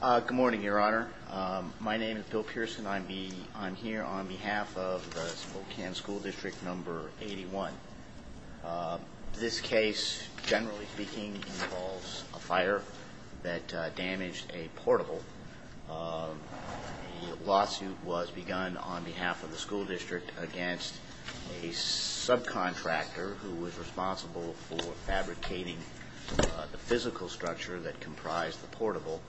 Good morning, your honor. My name is Bill Pearson. I'm here on behalf of the Spokane School District number 81. This case, generally speaking, involves a fire that damaged a portable. The lawsuit was begun on behalf of the school district against a subcontractor who was responsible for fabricating the physical structure that comprised the portable,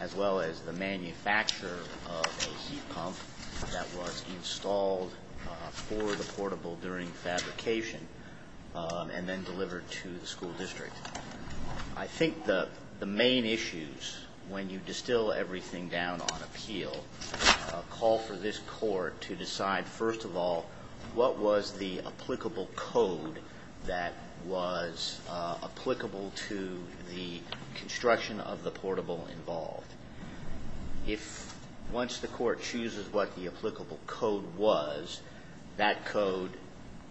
as well as the manufacturer of a heat pump that was installed for the portable during fabrication, and then delivered to the school district. I think the main issues when you distill everything down on appeal call for this court to decide, first of all, what was the applicable code that was applicable to the construction of the portable involved. If, once the court chooses what the applicable code was, that code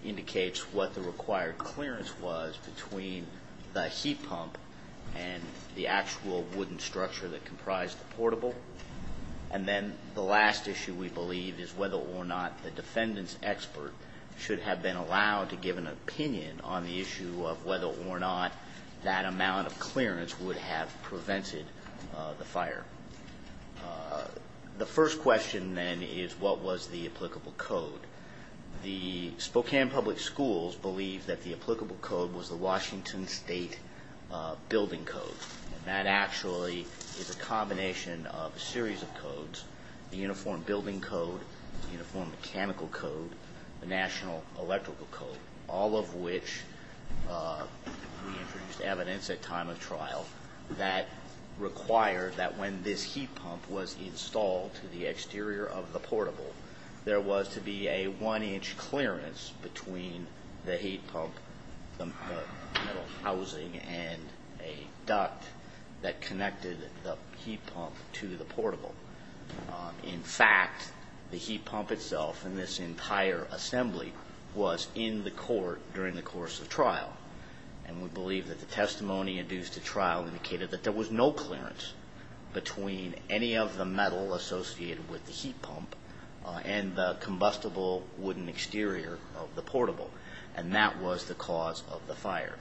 indicates what the required clearance was between the heat pump and the actual wooden structure that comprised the portable, and then the last issue, we believe, is whether or not the defendant's expert should have been allowed to give an opinion on the issue of whether or not that amount of clearance would have prevented the fire. The first question, then, is what was the applicable code? The Spokane Public Schools believe that the applicable code was the Washington State Building Code. That actually is a combination of a series of codes, the Uniform Building Code, the Uniform Mechanical Code, the National Electrical Code, all of which we introduced evidence at time of trial that required that when this heat pump was installed to the exterior of the portable, there was to be a one-inch clearance between the heat pump, the metal housing, and a duct that connected the heat pump to the portable. In fact, the heat pump itself and this entire assembly was in the court during the course of trial, and we believe that the testimony induced at trial indicated that there was no clearance between any of the metal associated with the heat pump and the combustible wooden exterior of the portable, and that was the cause of the fire.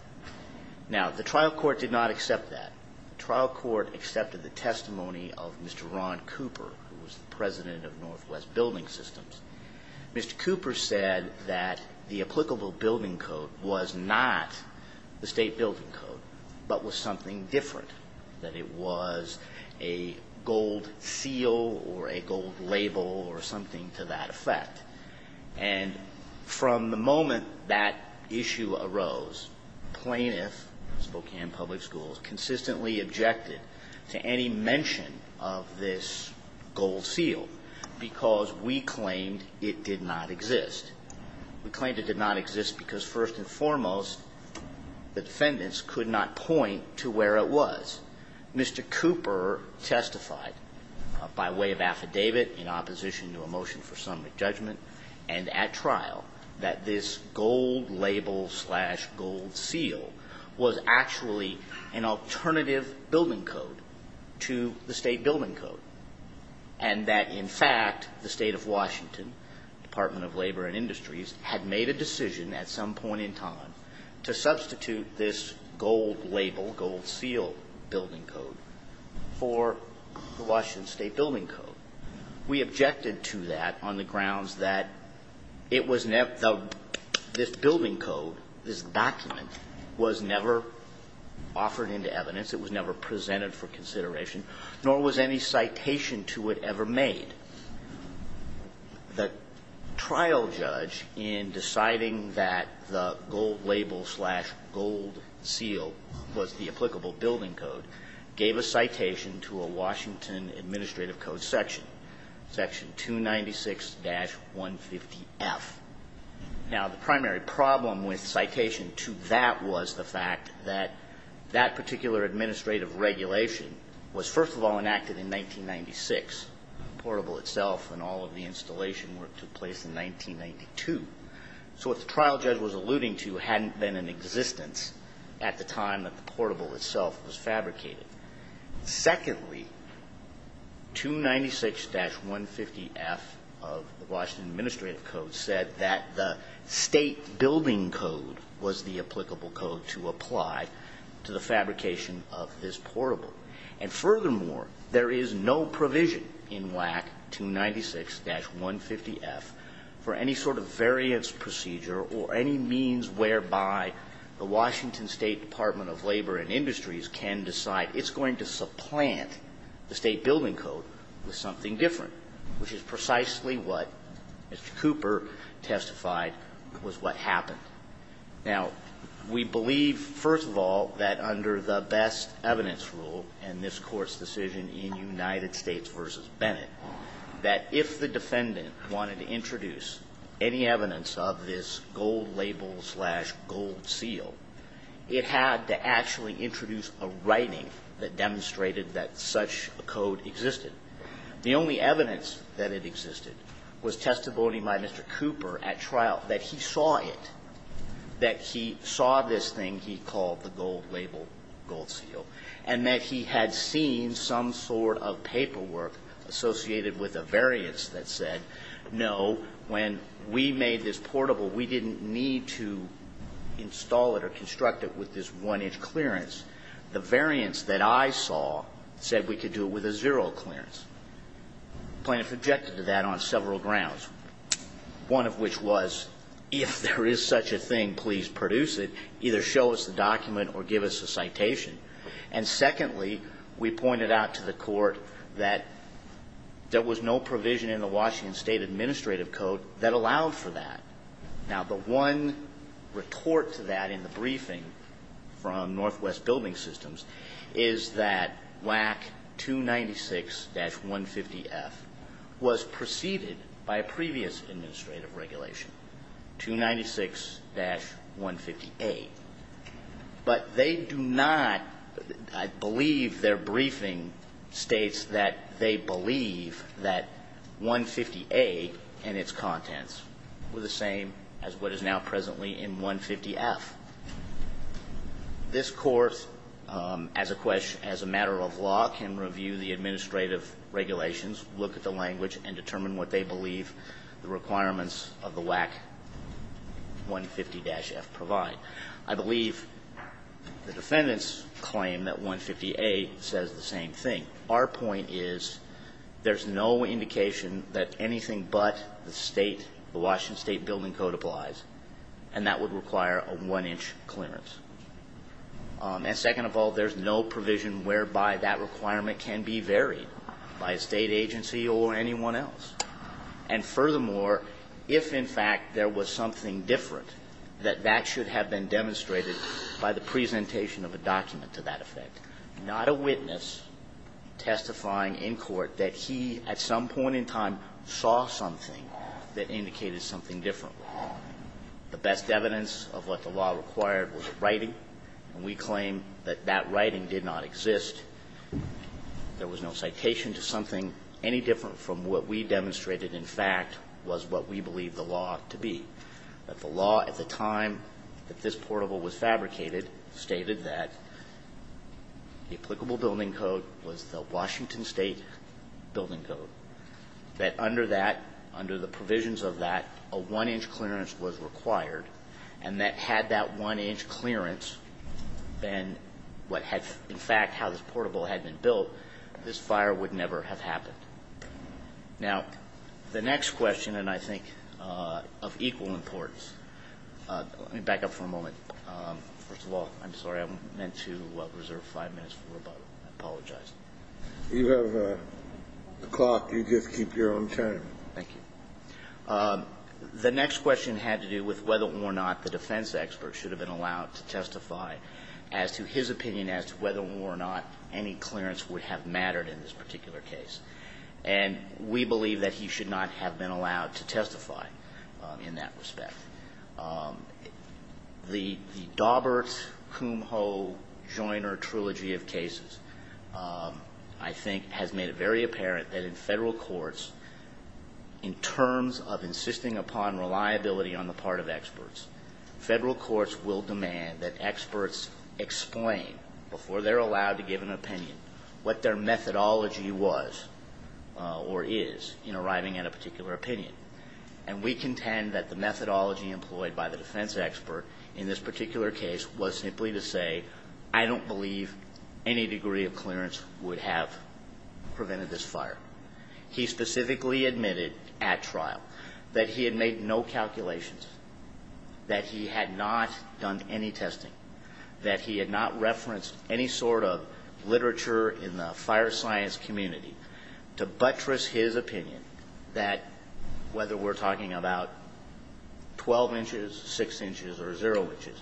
Now, the trial court did not accept that. The trial court accepted the testimony of Mr. Ron Cooper, who was the president of Northwest Building Systems. Mr. Cooper said that the applicable building code was not the state building code, but was something different, that it was a gold seal or a gold label or something to that effect. And from the moment that issue arose, plaintiffs, Spokane Public Schools, consistently objected to any mention of this gold seal because we claimed it did not exist. We claimed it did not exist because, first and foremost, the defendants could not point to where it was. Mr. Cooper testified by way of affidavit in opposition to a motion for summary judgment and at trial that this gold label-slash-gold seal was actually an alternative building code to the state building code, and that, in fact, the state of Washington, Department of Labor and Industries, had made a decision at some point in time to substitute this gold label, gold seal, building code. We objected to that on the grounds that this building code, this document, was never offered into evidence, it was never presented for consideration, nor was any citation to it ever made. And the trial judge, in deciding that the gold label-slash-gold seal was the applicable building code, gave a citation to a Washington administrative code section, section 296-150F. Now, the primary problem with citation to that was the fact that that particular administrative regulation was, first of all, enacted in 1996. The portable itself and all of the installation work took place in 1992. So what the trial judge was alluding to hadn't been in existence at the time that the portable itself was fabricated. Secondly, 296-150F of the Washington administrative code said that the state building code was the applicable code to apply to the fabrication of this portable. And furthermore, there is no provision in WAC 296-150F for any sort of variance procedure or any means whereby the Washington State Department of Labor and Industries can decide it's going to supplant the state building code with something different, which is precisely what Mr. Cooper testified was what happened. Now, we believe, first of all, that under the best evidence rule in this Court's decision in United States v. Bennett, that if the defendant wanted to introduce any evidence of this gold label-slash-gold seal, it had to actually introduce a writing that demonstrated that such a code existed. The only evidence that it existed was testimony by Mr. Cooper at trial that he saw it, that he saw this thing he called the gold label-gold seal, and that he had seen some sort of paperwork associated with a variance that said, no, when we made this portable, we didn't need to install it or construct it with this one-inch clearance. The variance that I saw said we could do it with a zero clearance. The plaintiff objected to that on several grounds, one of which was, if there is such a thing, please produce it, either show us the document or give us a citation. And secondly, we pointed out to the Court that there was no provision in the Washington State Administrative Code that allowed for that. Now, the one retort to that in the briefing from Northwest Building Systems is that WAC 296-150F was preceded by a previous administrative regulation, 296-150A. But they do not, I believe their briefing states that they believe that 150A and its contents were the same as what is now presently in 150F. This Court, as a matter of law, can review the administrative regulations, look at the language, and determine what they believe the requirements of the WAC 150-F provide. I believe the defendants claim that 150A says the same thing. Our point is there's no indication that anything but the State, the Washington State Building Code applies, and that would require a one-inch clearance. And second of all, there's no provision whereby that requirement can be varied by a State agency or anyone else. And furthermore, if, in fact, there was something different, that that should have been demonstrated by the presentation of a document to that effect. Not a witness testifying in court that he, at some point in time, saw something that indicated something different. The best evidence of what the law required was a writing, and we claim that that writing did not exist. There was no citation to something any different from what we demonstrated, in fact, was what we believe the law to be. But the law at the time that this portable was fabricated stated that the applicable building code was the Washington State Building Code, that under that, under the provisions of that, a one-inch clearance was required, and that had that one-inch clearance been what had, in fact, how this portable had been built, this fire would never have happened. Now, the next question, and I think of equal importance. Let me back up for a moment. First of all, I'm sorry. I meant to reserve five minutes for rebuttal. I apologize. You have the clock. You just keep your own time. Thank you. The next question had to do with whether or not the defense expert should have been And we believe that he should not have been allowed to testify in that respect. The Daubert-Kumho-Joiner trilogy of cases, I think, has made it very apparent that in Federal courts, in terms of insisting upon reliability on the part of experts, Federal courts will demand that experts before they're allowed to give an opinion what their methodology was or is in arriving at a particular opinion. And we contend that the methodology employed by the defense expert in this particular case was simply to say, I don't believe any degree of clearance would have prevented this fire. He specifically admitted at trial that he had made no calculations, that he had not done any testing. That he had not referenced any sort of literature in the fire science community to buttress his opinion that, whether we're talking about 12 inches, 6 inches, or 0 inches,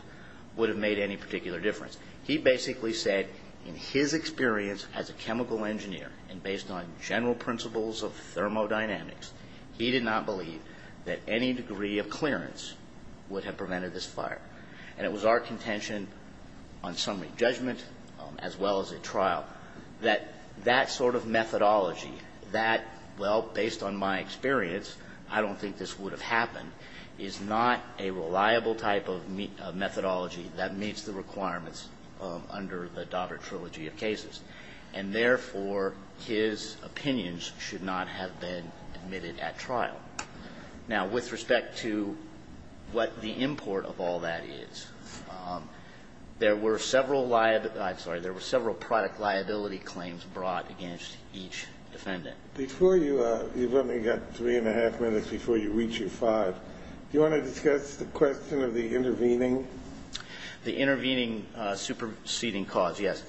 would have made any particular difference. He basically said in his experience as a chemical engineer and based on general principles of thermodynamics, he did not believe that any degree of clearance would have prevented this fire. And it was our contention on summary judgment as well as at trial that that sort of methodology, that, well, based on my experience, I don't think this would have happened, is not a reliable type of methodology that meets the requirements under the Daubert trilogy of cases. And therefore, his opinions should not have been admitted at trial. Now, with respect to what the import of all that is, there were several liability – I'm sorry. There were several product liability claims brought against each defendant. Before you – you've only got three and a half minutes before you reach your five. Do you want to discuss the question of the intervening? The intervening superseding cause, yes.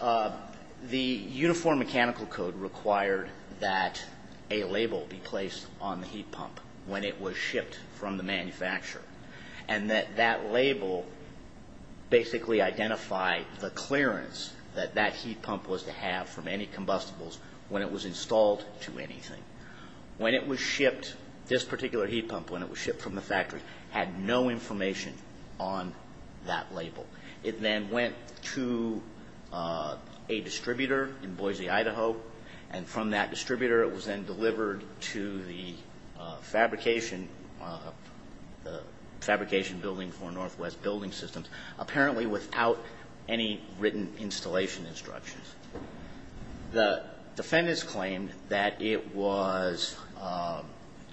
The Uniform Mechanical Code required that a label be placed on the heat pump when it was shipped from the manufacturer and that that label basically identified the clearance that that heat pump was to have from any combustibles when it was installed to anything. When it was shipped, this particular heat pump, when it was shipped from the factory, had no information on that label. It then went to a distributor in Boise, Idaho. And from that distributor, it was then delivered to the fabrication – the fabrication building for Northwest Building Systems, apparently without any written installation instructions. The defendants claimed that it was –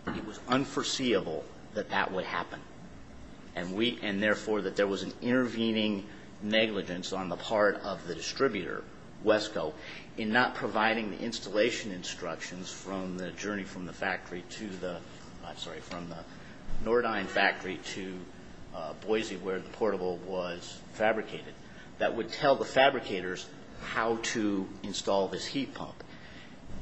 it was unforeseeable that that would happen. And therefore, that there was an intervening negligence on the part of the distributor, Wesco, in not providing the installation instructions from the journey from the factory to the – I'm sorry, from the Nordyne factory to Boise, where the portable was fabricated, that would tell the fabricators how to install this heat pump.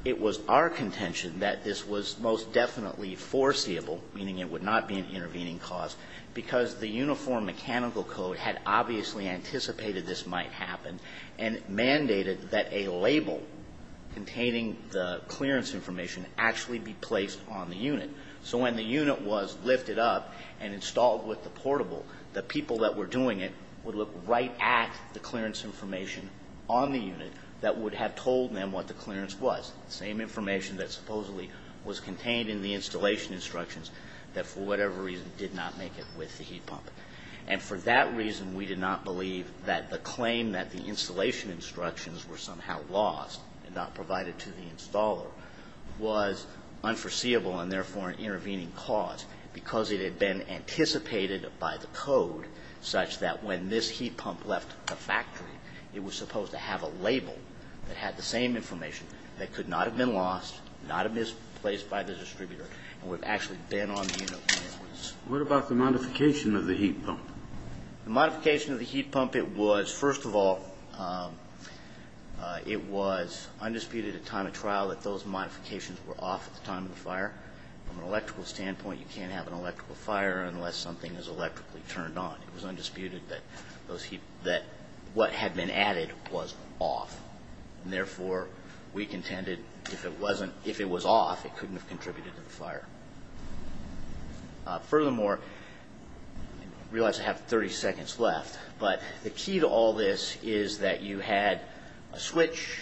It was our contention that this was most definitely foreseeable, meaning it would not be an intervening cause, because the Uniform Mechanical Code had obviously anticipated this might happen and mandated that a label containing the clearance information actually be placed on the unit. So when the unit was lifted up and installed with the portable, the people that were doing it would look right at the clearance information on the unit that would have told them what the clearance was, the same information that supposedly was contained in the installation instructions, that for whatever reason did not make it with the heat pump. And for that reason, we did not believe that the claim that the installation instructions were somehow lost and not provided to the installer was unforeseeable and therefore an intervening cause, because it had been anticipated by the code such that when this heat pump left the factory, it was supposed to have a label that had the same information that could not have been lost, not have been placed by the distributor, and would have actually been on the unit when it was. What about the modification of the heat pump? The modification of the heat pump, it was, first of all, it was undisputed at time of trial that those modifications were off at the time of the fire. From an electrical standpoint, you can't have an electrical fire unless something is electrically turned on. It was undisputed that what had been added was off. And therefore, we contended if it wasn't, if it was off, it couldn't have contributed to the fire. Furthermore, I realize I have 30 seconds left, but the key to all this is that you had a switch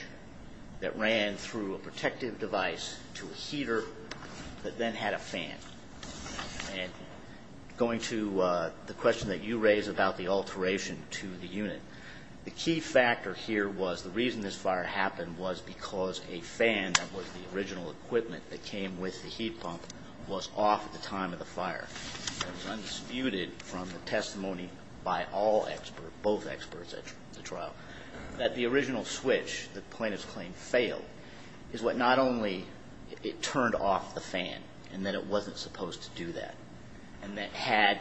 that ran through a protective device to a heater that then had a fan. Going to the question that you raised about the alteration to the unit, the key factor here was the reason this fire happened was because a fan that was the original equipment that came with the heat pump was off at the time of the fire. It was undisputed from the testimony by all experts, both experts at the trial, that the original switch, the plaintiff's claim failed, is what not only it turned off the fan, and that it wasn't supposed to do that, and that had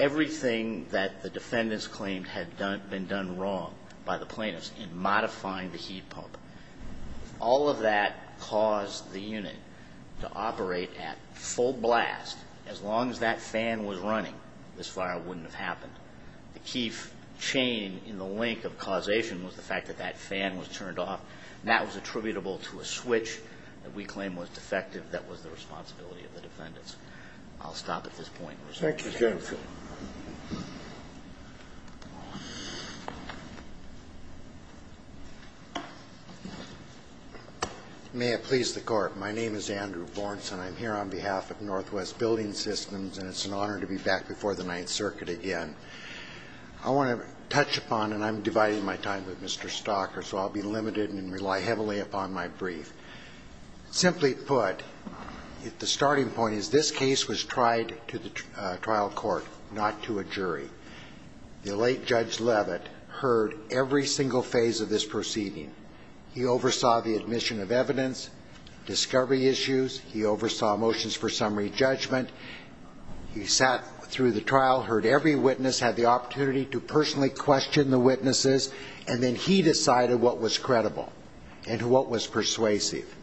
everything that the defendants claimed had been done wrong by the plaintiffs in modifying the heat pump. If all of that caused the unit to operate at full blast, as long as that fan was running, this fire wouldn't have happened. The key chain in the link of causation was the fact that that fan was turned off, and that was attributable to a switch that we claim was defective. That was the responsibility of the defendants. I'll stop at this point. Thank you, Judge. May it please the Court. My name is Andrew Vorenson. I'm here on behalf of Northwest Building Systems, and it's an honor to be back before the Ninth Circuit again. I want to touch upon, and I'm dividing my time with Mr. Stocker, so I'll be limited and rely heavily upon my brief. Simply put, the starting point is this case was tried to the trial court, not to a jury. The late Judge Leavitt heard every single phase of this proceeding. He oversaw the admission of evidence, discovery issues. He oversaw motions for summary judgment. He sat through the trial, heard every witness, had the opportunity to personally and what was persuasive.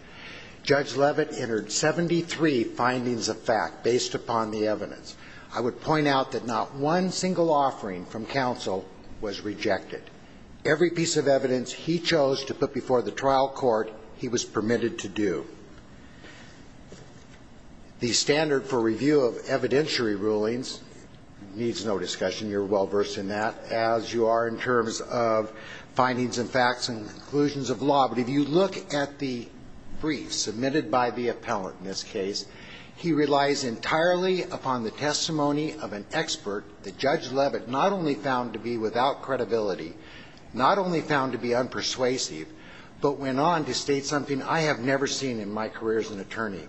Judge Leavitt entered 73 findings of fact based upon the evidence. I would point out that not one single offering from counsel was rejected. Every piece of evidence he chose to put before the trial court, he was permitted to do. The standard for review of evidentiary rulings needs no discussion. You're well versed in that, as you are in terms of findings and facts and conclusions of law. But if you look at the brief submitted by the appellant in this case, he relies entirely upon the testimony of an expert that Judge Leavitt not only found to be without credibility, not only found to be unpersuasive, but went on to state something I have never seen in my career as an attorney,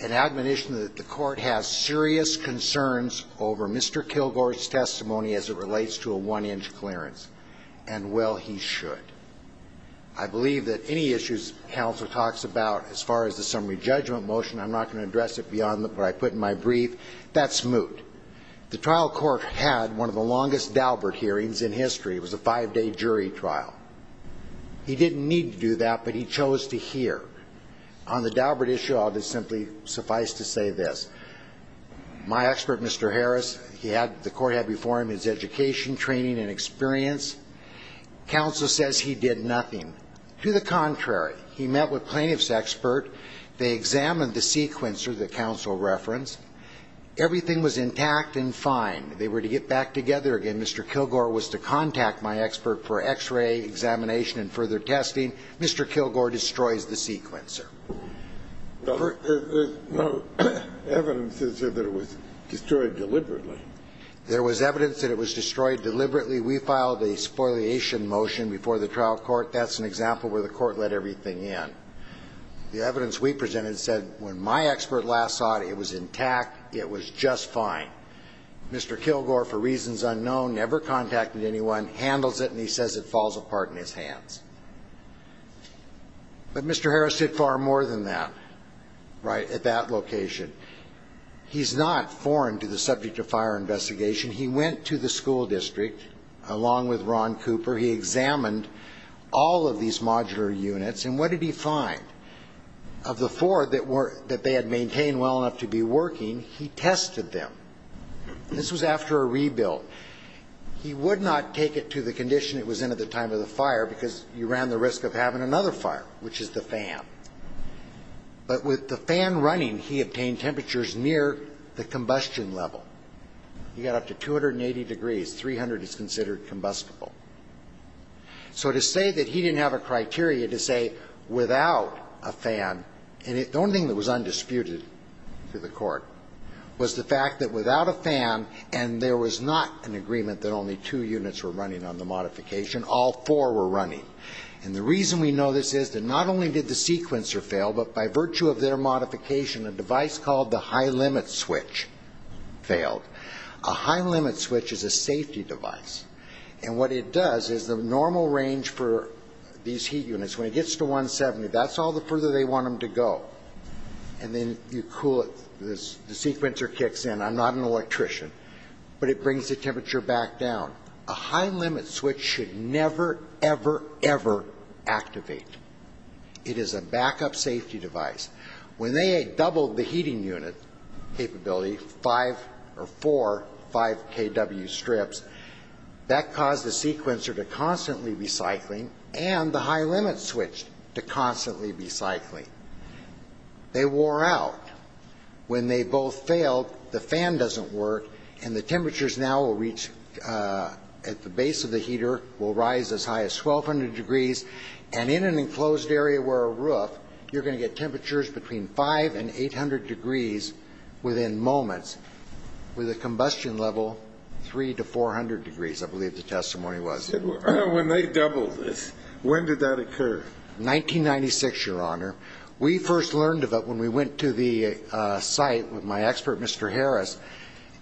an admonition that the court has serious concerns over Mr. Kilgore's testimony as it relates to a one-inch clearance. And, well, he should. I believe that any issues counsel talks about as far as the summary judgment motion, I'm not going to address it beyond what I put in my brief. That's moot. The trial court had one of the longest Daubert hearings in history. It was a five-day jury trial. He didn't need to do that, but he chose to hear. On the Daubert issue, I'll just simply suffice to say this. My expert, Mr. Harris, he had the court had before him his education, training, and experience. Counsel says he did nothing. To the contrary, he met with plaintiff's expert. They examined the sequencer that counsel referenced. Everything was intact and fine. They were to get back together again. Mr. Kilgore was to contact my expert for X-ray examination and further testing. Mr. Kilgore destroys the sequencer. The evidence is that it was destroyed deliberately. There was evidence that it was destroyed deliberately. We filed a spoliation motion before the trial court. That's an example where the court let everything in. The evidence we presented said when my expert last saw it, it was intact, it was just fine. Mr. Kilgore, for reasons unknown, never contacted anyone, handles it, and he says it falls apart in his hands. But Mr. Harris did far more than that, right, at that location. He's not foreign to the subject of fire investigation. He went to the school district along with Ron Cooper. He examined all of these modular units, and what did he find? Of the four that they had maintained well enough to be working, he tested them. This was after a rebuild. He would not take it to the condition it was in at the time of the fire because you ran the risk of having another fire, which is the fan. But with the fan running, he obtained temperatures near the combustion level. He got up to 280 degrees. 300 is considered combustible. So to say that he didn't have a criteria to say without a fan, and the only thing that was undisputed to the court was the fact that without a fan and there was not an agreement that only two units were running on the modification, all four were running. And the reason we know this is that not only did the sequencer fail, but by virtue of their modification, a device called the high limit switch failed. A high limit switch is a safety device. And what it does is the normal range for these heat units, when it gets to 170, that's all the further they want them to go. And then you cool it. The sequencer kicks in. I'm not an electrician. But it brings the temperature back down. A high limit switch should never, ever, ever activate. It is a backup safety device. When they doubled the heating unit capability, four 5kW strips, that caused the sequencer to constantly be cycling and the high limit switch to constantly be cycling. They wore out. When they both failed, the fan doesn't work, and the temperatures now will reach at the base of the heater will rise as high as 1,200 degrees. And in an enclosed area where a roof, you're going to get temperatures between 5 and 800 degrees within moments, with a combustion level 3 to 400 degrees, I believe the testimony was. When they doubled this, when did that occur? 1996, Your Honor. We first learned of it when we went to the site with my expert, Mr. Harris.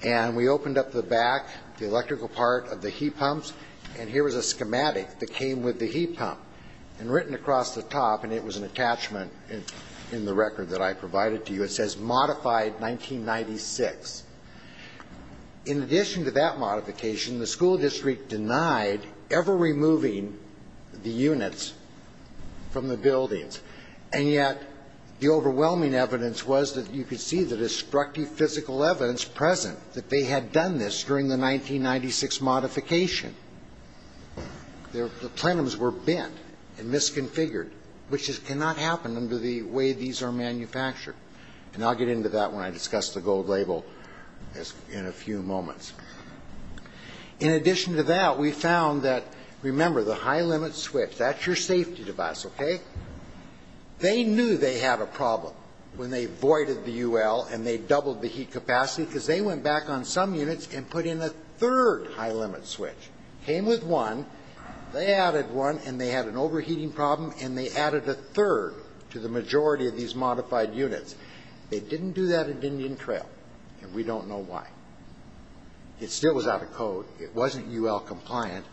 And we opened up the back, the electrical part of the heat pumps, and here was a schematic that came with the heat pump. And written across the top, and it was an attachment in the record that I provided to you, it says modified 1996. In addition to that modification, the school district denied ever removing the units from the buildings. And yet, the overwhelming evidence was that you could see the destructive physical evidence present that they had done this during the 1996 modification. The plenums were bent and misconfigured, which cannot happen under the way these are manufactured. And I'll get into that when I discuss the gold label in a few moments. In addition to that, we found that, remember, the high limit switch, that's your safety device, okay? They knew they had a problem when they voided the UL and they doubled the heat capacity because they went back on some units and put in a third high limit switch. Came with one, they added one, and they had an overheating problem, and they added a third to the majority of these modified units. They didn't do that at Indian Trail, and we don't know why. It still was out of code. It wasn't UL compliant,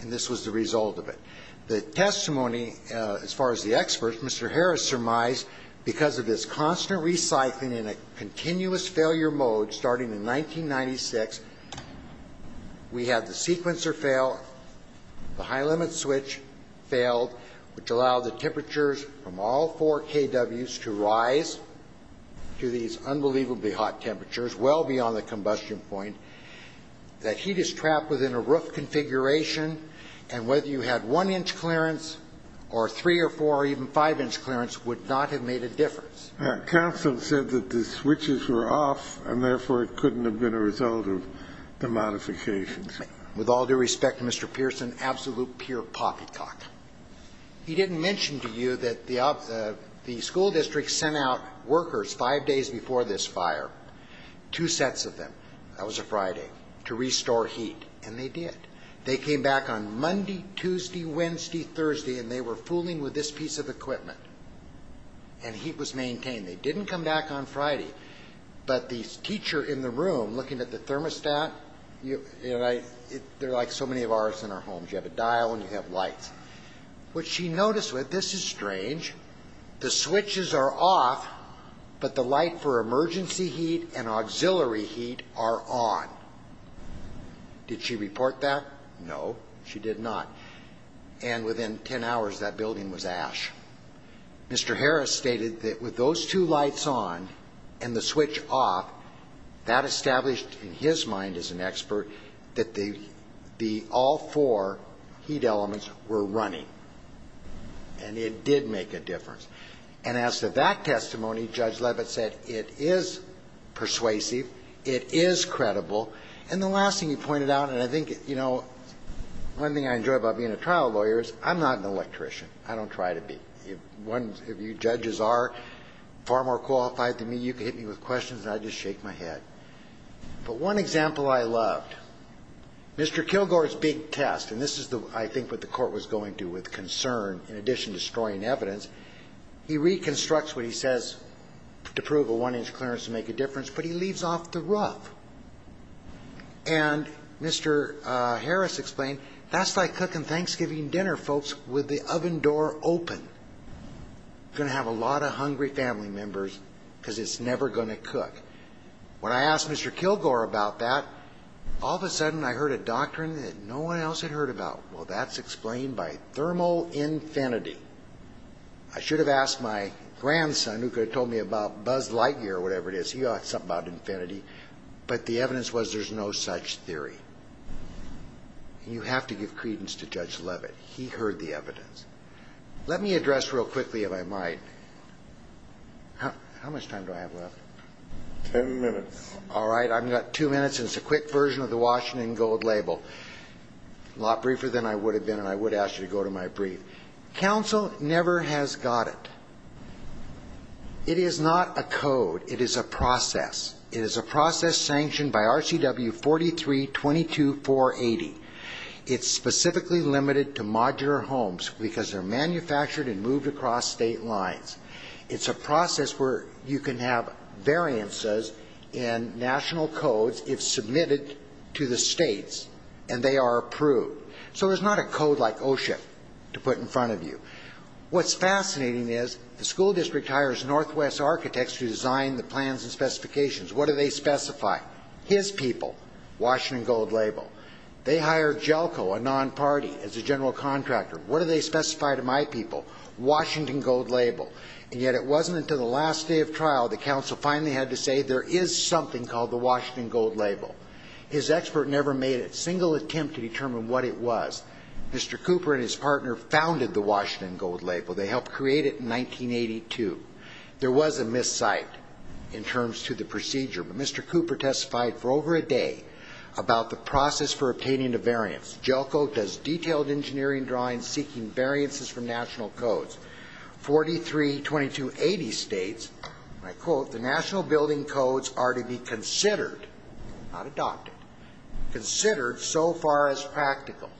and this was the result of it. The testimony, as far as the experts, Mr. Harris surmised, because of this constant recycling in a continuous failure mode starting in 1996, we had the sequencer fail, the high limit switch failed, which allowed the temperatures from all four KWs to rise to these unbelievably hot temperatures, well beyond the combustion point. That heat is trapped within a roof configuration, and whether you had one-inch clearance or three or four or even five-inch clearance would not have made a difference. Counsel said that the switches were off, and therefore it couldn't have been a result of the modifications. With all due respect to Mr. Pearson, absolute pure poppycock. He didn't mention to you that the school district sent out workers five days before this fire, two sets of them, that was a Friday, to restore heat, and they did. They came back on Monday, Tuesday, Wednesday, Thursday, and they were fooling with this piece of equipment, and heat was maintained. They didn't come back on Friday, but the teacher in the room looking at the thermostat, they're like so many of ours in our homes. You have a dial and you have lights. What she noticed was this is strange. The switches are off, but the light for emergency heat and auxiliary heat are on. Did she report that? No, she did not. And within 10 hours, that building was ash. Mr. Harris stated that with those two lights on and the switch off, that established, in his mind as an expert, that all four heat elements were running, and it did make a difference. And as to that testimony, Judge Levitt said it is persuasive, it is credible, and the last thing he pointed out, and I think, you know, one thing I enjoy about being a trial lawyer is I'm not an electrician. I don't try to be. If you judges are far more qualified than me, you can hit me with questions, and I just shake my head. But one example I loved, Mr. Kilgore's big test, and this is, I think, what the court was going to with concern in addition to destroying evidence. He reconstructs what he says to prove a one-inch clearance to make a difference, but he leaves off the rough. And Mr. Harris explained, that's like cooking Thanksgiving dinner, folks, with the oven door open. It's going to have a lot of hungry family members because it's never going to cook. When I asked Mr. Kilgore about that, all of a sudden I heard a doctrine that no one else had heard about. Well, that's explained by thermal infinity. I should have asked my grandson who could have told me about Buzz Lightyear or whatever it is. He knows something about infinity. But the evidence was there's no such theory. You have to give credence to Judge Levitt. He heard the evidence. Let me address real quickly, if I might. How much time do I have left? Ten minutes. All right. I've got two minutes, and it's a quick version of the Washington Gold Label. A lot briefer than I would have been, and I would ask you to go to my brief. Counsel never has got it. It is not a code. It is a process. It is a process sanctioned by RCW 43-22-480. It's specifically limited to modular homes because they're manufactured and moved across state lines. It's a process where you can have variances in national codes if submitted to the states, and they are approved. So there's not a code like OSHA to put in front of you. What's fascinating is the school district hires Northwest architects to design the plans and specifications. What do they specify? His people, Washington Gold Label. They hire Jelko, a non-party, as a general contractor. What do they specify to my people? Washington Gold Label. And yet it wasn't until the last day of trial that counsel finally had to say there is something called the Washington Gold Label. His expert never made a single attempt to determine what it was. Mr. Cooper and his partner founded the Washington Gold Label. They helped create it in 1982. There was a miscite in terms to the procedure. But Mr. Cooper testified for over a day about the process for obtaining the variance. Jelko does detailed engineering drawings seeking variances from national codes. 43-2280 states, and I quote, the national building codes are to be considered, not adopted, considered so far as practical.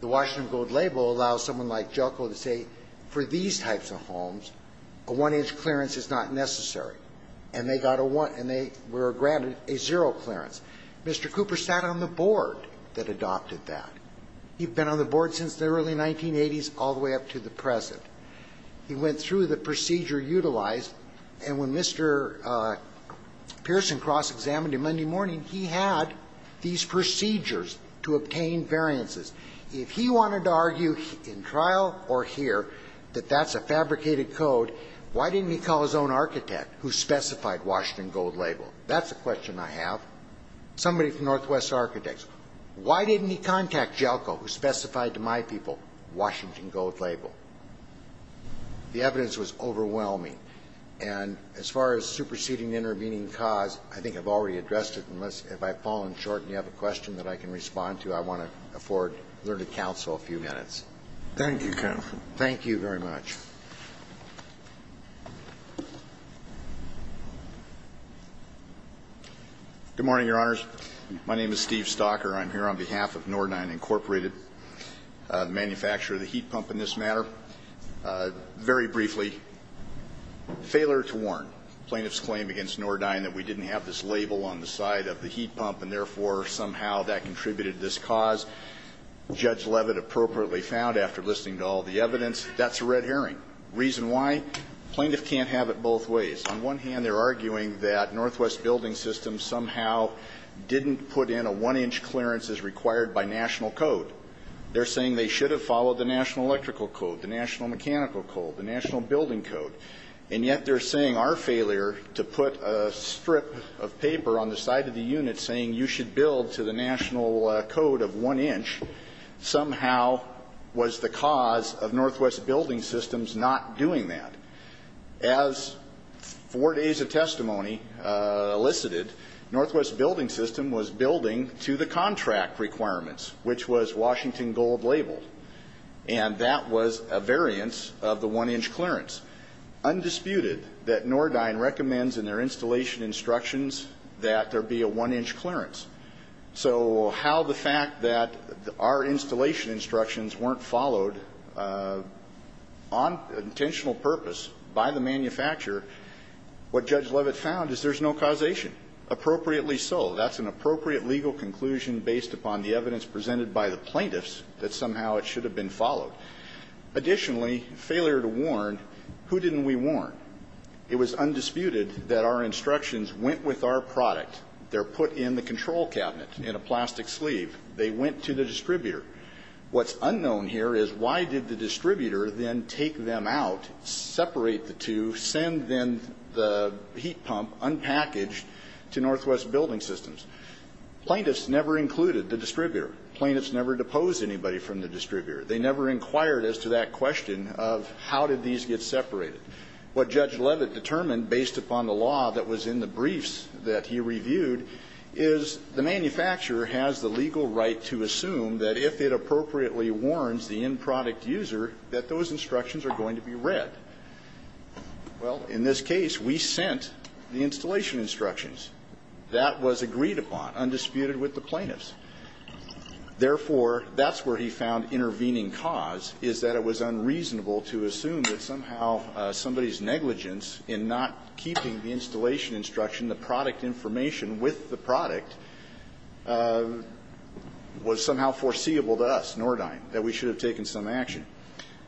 The Washington Gold Label allows someone like Jelko to say for these types of homes, a one-inch clearance is not necessary. And they got a one and they were granted a zero clearance. Mr. Cooper sat on the board that adopted that. He's been on the board since the early 1980s all the way up to the present. He went through the procedure utilized, and when Mr. Pearson cross-examined him Monday morning, he had these procedures to obtain variances. If he wanted to argue in trial or here that that's a fabricated code, why didn't he call his own architect who specified Washington Gold Label? That's a question I have. Somebody from Northwest Architects. Why didn't he contact Jelko, who specified to my people Washington Gold Label? The evidence was overwhelming. And as far as superseding intervening cause, I think I've already addressed it. If I've fallen short and you have a question that I can respond to, I want to afford a little counsel a few minutes. Thank you, counsel. Thank you very much. Good morning, Your Honors. My name is Steve Stocker. I'm here on behalf of Nordyne Incorporated, the manufacturer of the heat pump in this matter. Very briefly, failure to warn. Plaintiff's claim against Nordyne that we didn't have this label on the side of the heat pump and, therefore, somehow that contributed to this cause. Judge Levitt appropriately found after listening to all the evidence. That's a red herring. Reason why? Plaintiff can't have it both ways. On one hand, they're arguing that Northwest Building Systems somehow didn't put in a one-inch clearance as required by national code. They're saying they should have followed the National Electrical Code, the National Mechanical Code, the National Building Code. And yet they're saying our failure to put a strip of paper on the side of the unit saying you should build to the national code of one inch somehow was the cause of Northwest Building Systems not doing that. As four days of testimony elicited, Northwest Building System was building to the contract requirements, which was Washington Gold labeled. And that was a variance of the one-inch clearance. It's undisputed that Nordyne recommends in their installation instructions that there be a one-inch clearance. So how the fact that our installation instructions weren't followed on intentional purpose by the manufacturer, what Judge Levitt found is there's no causation. Appropriately so. That's an appropriate legal conclusion based upon the evidence presented by the plaintiffs that somehow it should have been followed. Additionally, failure to warn, who didn't we warn? It was undisputed that our instructions went with our product. They're put in the control cabinet in a plastic sleeve. They went to the distributor. What's unknown here is why did the distributor then take them out, separate the two, send then the heat pump unpackaged to Northwest Building Systems? Plaintiffs never included the distributor. Plaintiffs never deposed anybody from the distributor. They never inquired as to that question of how did these get separated. What Judge Levitt determined based upon the law that was in the briefs that he reviewed is the manufacturer has the legal right to assume that if it appropriately warns the end product user that those instructions are going to be read. Well, in this case, we sent the installation instructions. That was agreed upon, undisputed with the plaintiffs. Therefore, that's where he found intervening cause is that it was unreasonable to assume that somehow somebody's negligence in not keeping the installation instruction, the product information with the product, was somehow foreseeable to us, Nordheim, that we should have taken some action.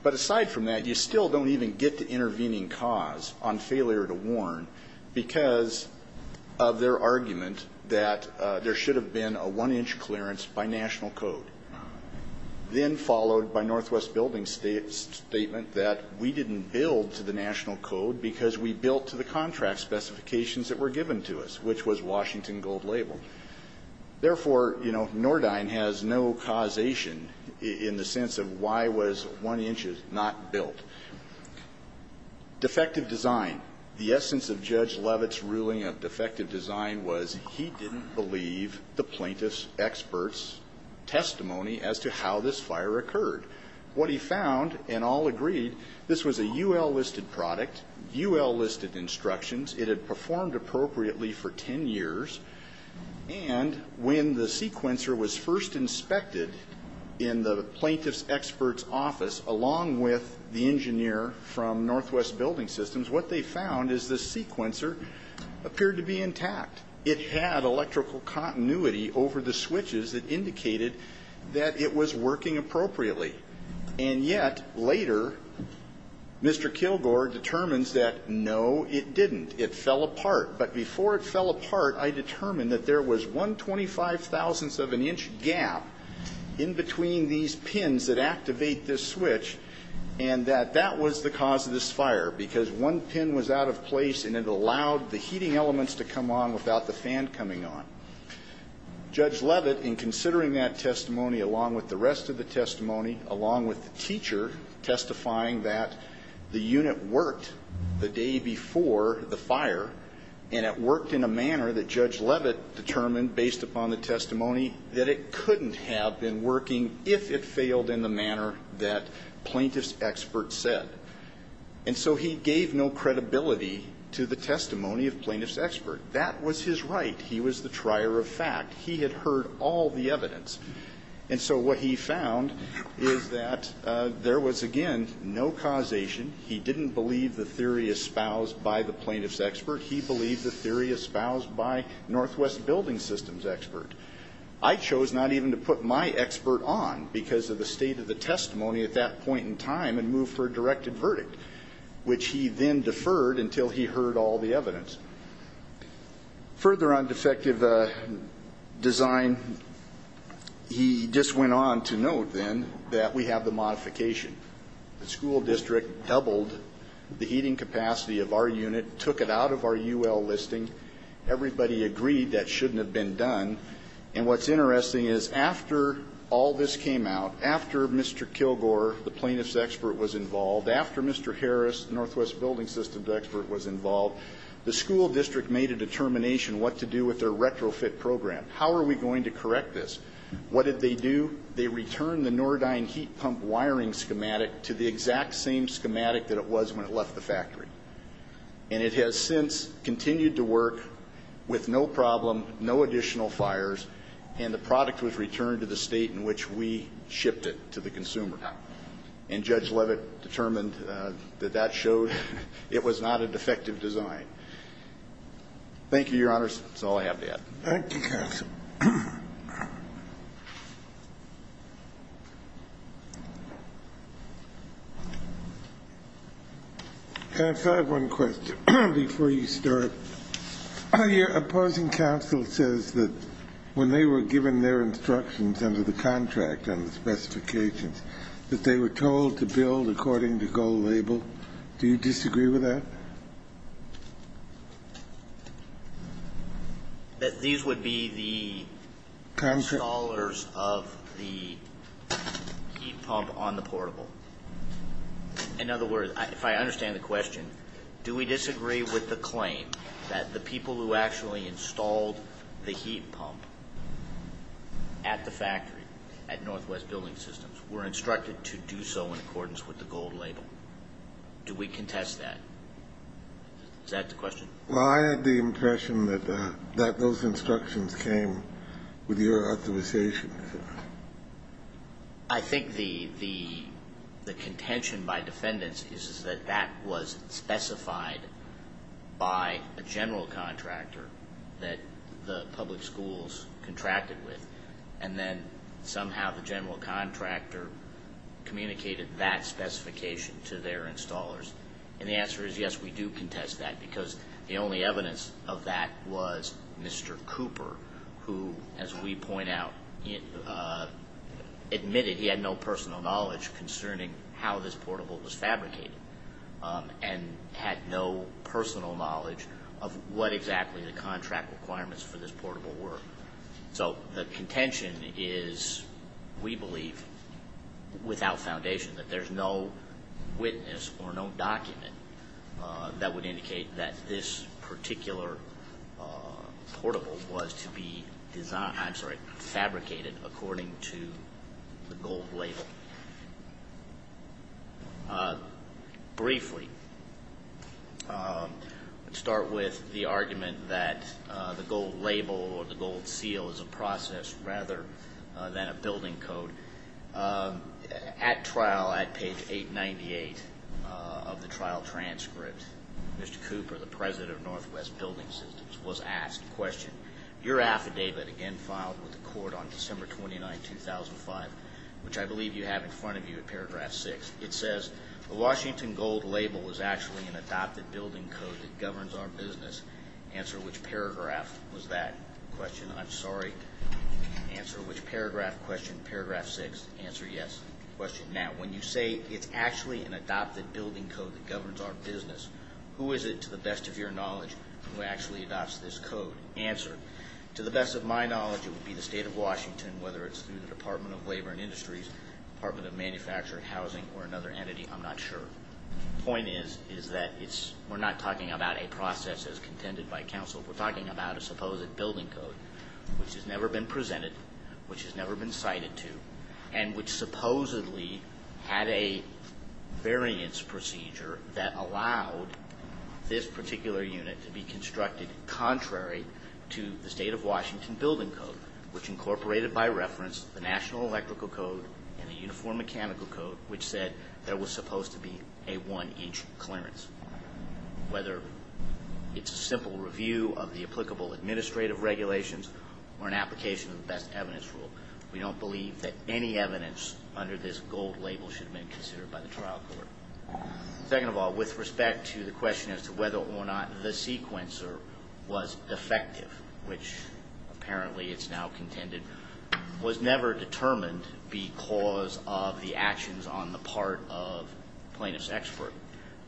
But aside from that, you still don't even get to intervening cause on failure to warn because of their argument that there should have been a one-inch clearance by national code. Then followed by Northwest Building's statement that we didn't build to the national code because we built to the contract specifications that were given to us, which was Washington Gold Label. Therefore, you know, Nordheim has no causation in the sense of why was one-inch not built. Defective design. The essence of Judge Levitt's ruling of defective design was he didn't believe the plaintiff's expert's testimony as to how this fire occurred. What he found, and all agreed, this was a U.L. listed product, U.L. listed instructions. It had performed appropriately for ten years. And when the sequencer was first inspected in the plaintiff's expert's office, along with the engineer from Northwest Building Systems, what they found is the sequencer appeared to be intact. It had electrical continuity over the switches that indicated that it was working appropriately. And yet, later, Mr. Kilgore determines that, no, it didn't. It fell apart. But before it fell apart, I determined that there was 125 thousandths of an inch gap in between these pins that activate this switch, and that that was the cause of this fire, because one pin was out of place and it allowed the heating elements to come on without the fan coming on. Judge Levitt, in considering that testimony, along with the rest of the testimony, along with the teacher testifying that the unit worked the day before the fire, and it worked in a manner that Judge Levitt determined, based upon the testimony, that it couldn't have been working if it failed in the manner that plaintiff's expert said. And so he gave no credibility to the testimony of plaintiff's expert. That was his right. He was the trier of fact. He had heard all the evidence. And so what he found is that there was, again, no causation. He didn't believe the theory espoused by the plaintiff's expert. He believed the theory espoused by Northwest Building Systems' expert. I chose not even to put my expert on because of the state of the testimony at that point in time and moved for a directed verdict, which he then deferred until he heard all the evidence. Further on defective design, he just went on to note, then, that we have the modification. The school district doubled the heating capacity of our unit, took it out of our UL listing. Everybody agreed that shouldn't have been done. And what's interesting is after all this came out, after Mr. Kilgore, the plaintiff's expert, was involved, after Mr. Harris, Northwest Building Systems' expert, was involved, the school district made a determination what to do with their retrofit program. How are we going to correct this? What did they do? They returned the Nordyne heat pump wiring schematic to the exact same schematic that it was when it left the factory. And it has since continued to work with no problem, no additional fires, and the product was returned to the state in which we shipped it to the consumer. And Judge Levitt determined that that showed it was not a defective design. Thank you, Your Honors. That's all I have to add. Thank you, counsel. And I have one question before you start. Your opposing counsel says that when they were given their instructions under the contract and the specifications, that they were told to build according to goal label. Do you disagree with that? That these would be the installers of the heat pump on the portable? In other words, if I understand the question, do we disagree with the claim that the people who actually installed the heat pump at the factory, at Northwest Building Systems, were instructed to do so in accordance with the goal label? Do we contest that? Is that the question? Well, I had the impression that those instructions came with your authorization. I think the contention by defendants is that that was specified by a general contractor that the public schools contracted with. And then somehow the general contractor communicated that specification to their installers. And the answer is yes, we do contest that. Because the only evidence of that was Mr. Cooper, who, as we point out, admitted he had no personal knowledge concerning how this portable was fabricated and had no personal knowledge of what exactly the contract requirements for this portable were. So the contention is, we believe, without foundation, that there's no witness or no document that would indicate that this particular portable was to be fabricated according to the gold label. Briefly, let's start with the argument that the gold label or the gold seal is a process rather than a building code. At trial, at page 898 of the trial transcript, Mr. Cooper, the president of Northwest Building Systems, was asked a question. Your affidavit, again filed with the court on December 29, 2005, which I believe you have in front of you at paragraph 6, it says, the Washington gold label was actually an adopted building code that governs our business. Answer which paragraph was that question? I'm sorry. Answer which paragraph question? Paragraph 6. Answer yes. Question now. When you say it's actually an adopted building code that governs our business, who is it, to the best of your knowledge, who actually adopts this code? Answer. To the best of my knowledge, it would be the state of Washington, whether it's through the Department of Labor and Industries, Department of Manufacturing, Housing, or another entity, I'm not sure. The point is, is that we're not talking about a process as contended by counsel. We're talking about a supposed building code which has never been presented, which has never been cited to, and which supposedly had a variance procedure that allowed this particular unit to be constructed contrary to the state of Washington building code, which incorporated by reference the National Electrical Code and the Uniform Mechanical Code, which said there was supposed to be a one-inch clearance, whether it's a simple review of the applicable administrative regulations or an application of the best evidence rule. We don't believe that any evidence under this gold label should have been considered by the trial court. Second of all, with respect to the question as to whether or not the sequencer was effective, which apparently it's now contended, was never determined because of the actions on the part of plaintiff's expert.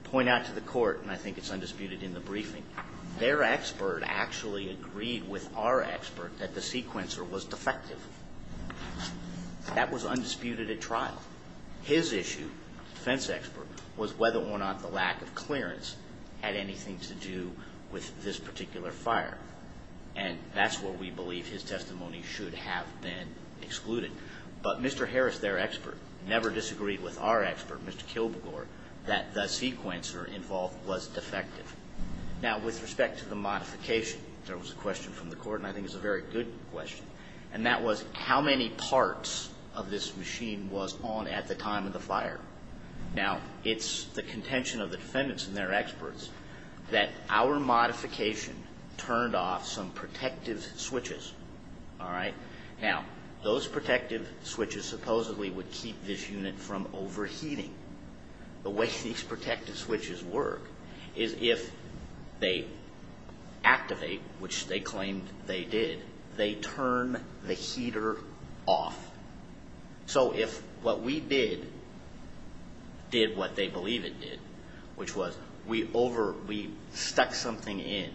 Point out to the court, and I think it's undisputed in the briefing, their expert actually agreed with our expert that the sequencer was defective. That was undisputed at trial. His issue, defense expert, was whether or not the lack of clearance had anything to do with this particular fire, and that's where we believe his testimony should have been excluded. But Mr. Harris, their expert, never disagreed with our expert, Mr. Kilbegor, that the sequencer involved was defective. Now, with respect to the modification, there was a question from the court, and I think it's a very good question, and that was how many parts of this machine was on at the time of the fire. Now, it's the contention of the defendants and their experts that our modification turned off some protective switches. All right? Now, those protective switches supposedly would keep this unit from overheating. The way these protective switches work is if they activate, which they claimed they did, they turn the heater off. So if what we did did what they believe it did, which was we stuck something in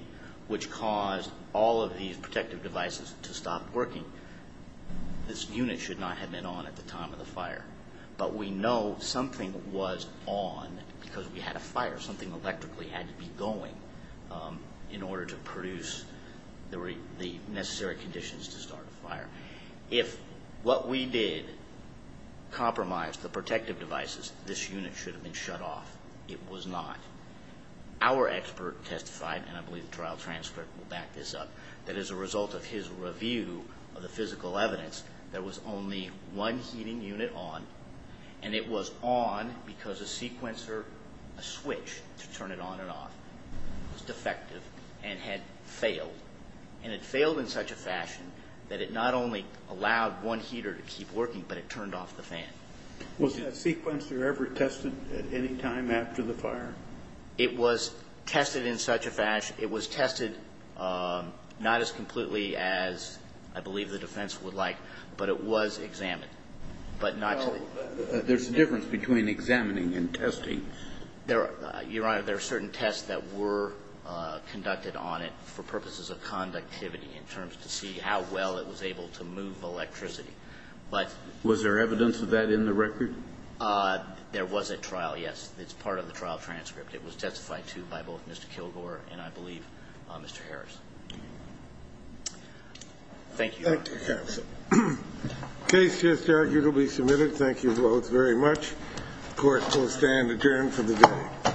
which caused all of these protective devices to stop working, this unit should not have been on at the time of the fire. But we know something was on because we had a fire. Something electrically had to be going in order to produce the necessary conditions to start a fire. If what we did compromised the protective devices, this unit should have been shut off. It was not. Our expert testified, and I believe the trial transcript will back this up, that as a result of his review of the physical evidence, there was only one heating unit on. And it was on because a sequencer, a switch to turn it on and off, was defective and had failed. And it failed in such a fashion that it not only allowed one heater to keep working, but it turned off the fan. Was that sequencer ever tested at any time after the fire? It was tested in such a fashion. It was tested not as completely as I believe the defense would like, but it was examined. There's a difference between examining and testing. Your Honor, there are certain tests that were conducted on it for purposes of conductivity in terms to see how well it was able to move electricity. Was there evidence of that in the record? There was a trial, yes. It's part of the trial transcript. It was testified to by both Mr. Kilgore and, I believe, Mr. Harris. Thank you, Your Honor. Thank you, counsel. Case just arguably submitted. Thank you both very much. Court will stand adjourned for the day.